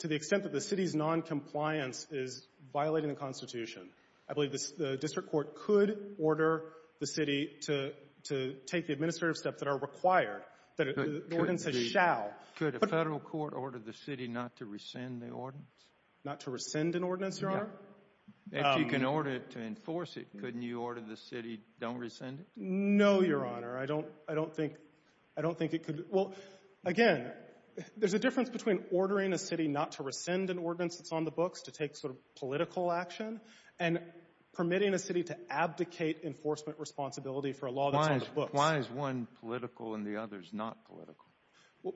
to the extent that the city's noncompliance is violating the Constitution. I believe the district court could order the city to take the administrative steps that are required, that the ordinance says shall. Could a federal court order the city not to rescind the ordinance? Not to rescind an ordinance, Your Honor? If you can order it to enforce it, couldn't you order the city don't rescind it? No, Your Honor. I don't think it could. Well, again, there's a difference between ordering a city not to rescind an ordinance that's on the books to take sort of political action and permitting a city to abdicate enforcement responsibility for a law that's on the books. Why is one political and the other is not political?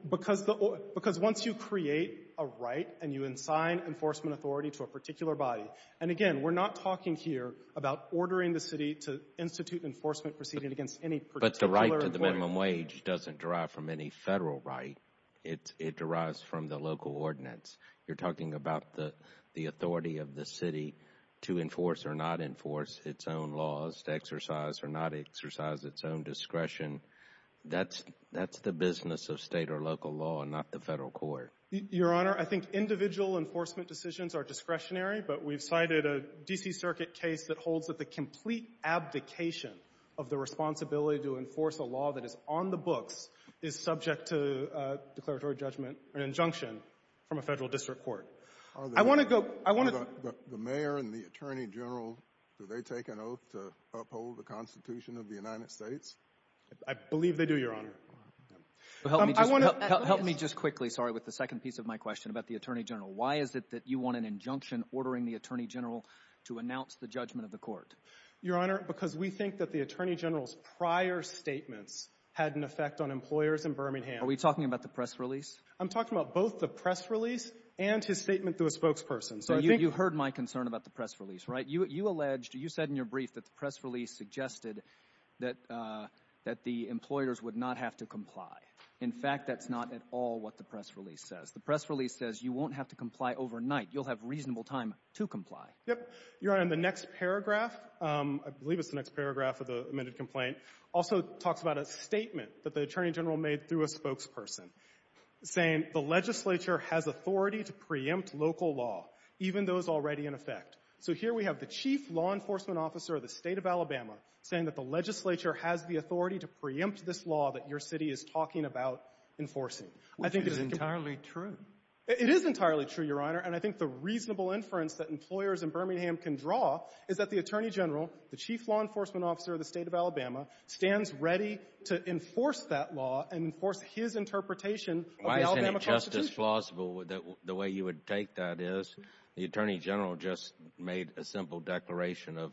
Because once you create a right and you assign enforcement authority to a particular body, and again, we're not talking here about ordering the city to institute enforcement proceeding against any particular employee. But the right to the minimum wage doesn't derive from any federal right. It derives from the local ordinance. You're talking about the authority of the city to enforce or not enforce its own laws, to exercise or not exercise its own discretion. That's the business of state or local law and not the federal court. Your Honor, I think individual enforcement decisions are discretionary, but we've cited a D.C. Circuit case that holds that the complete abdication of the responsibility to enforce a law that is on the books is subject to declaratory judgment or injunction from a federal district court. I want to go – The mayor and the attorney general, do they take an oath to uphold the Constitution of the United States? I believe they do, Your Honor. Help me just quickly, sorry, with the second piece of my question about the attorney general. Why is it that you want an injunction ordering the attorney general to announce the judgment of the court? Your Honor, because we think that the attorney general's prior statements had an effect on employers in Birmingham. Are we talking about the press release? I'm talking about both the press release and his statement to a spokesperson. So I think – You heard my concern about the press release, right? You alleged, you said in your brief that the press release suggested that the employers would not have to comply. In fact, that's not at all what the press release says. The press release says you won't have to comply overnight. You'll have reasonable time to comply. Yep. Your Honor, in the next paragraph, I believe it's the next paragraph of the amended complaint, also talks about a statement that the attorney general made through a spokesperson saying the legislature has authority to preempt local law, even those already in effect. So here we have the chief law enforcement officer of the state of Alabama saying that the legislature has the authority to preempt this law that your city is talking about enforcing. Which is entirely true. It is entirely true, Your Honor. And I think the reasonable inference that employers in Birmingham can draw is that the attorney general, the chief law enforcement officer of the state of Alabama, stands ready to enforce that law and enforce his interpretation of the Alabama Constitution. Why isn't it just as plausible that the way you would take that is the attorney general just made a simple declaration of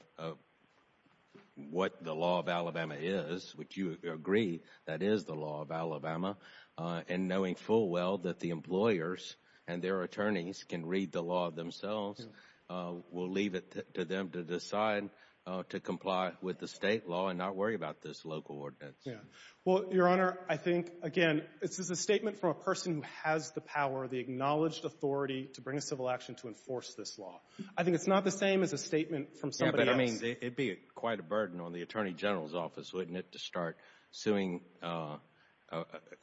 what the law of Alabama is, which you agree that is the law of Alabama, and knowing full well that the employers and their attorneys can read the law themselves, will leave it to them to decide to comply with the state law and not worry about this local ordinance? Yeah. Well, Your Honor, I think, again, this is a statement from a person who has the authority to bring a civil action to enforce this law. I think it's not the same as a statement from somebody else. Yeah, but, I mean, it would be quite a burden on the attorney general's office, wouldn't it, to start suing, you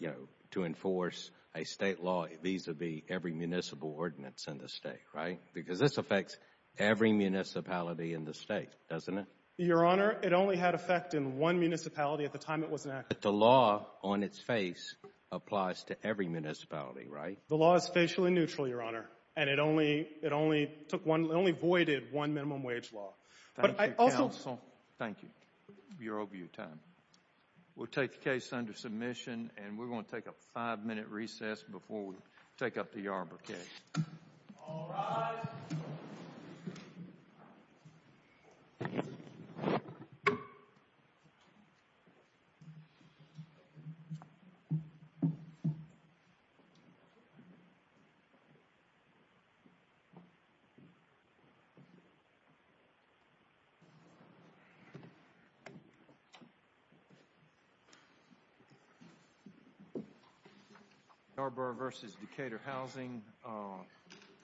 know, to enforce a state law vis-à-vis every municipal ordinance in the state, right? Because this affects every municipality in the state, doesn't it? Your Honor, it only had effect in one municipality at the time it was enacted. But the law on its face applies to every municipality, right? The law is facial and neutral, Your Honor, and it only voided one minimum wage law. Thank you, counsel. Thank you. You're over your time. We'll take the case under submission, and we're going to take a five-minute recess before we take up the arbitration. All rise. Please be seated. Garber v. Decatur Housing,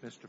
Mr. Fortin.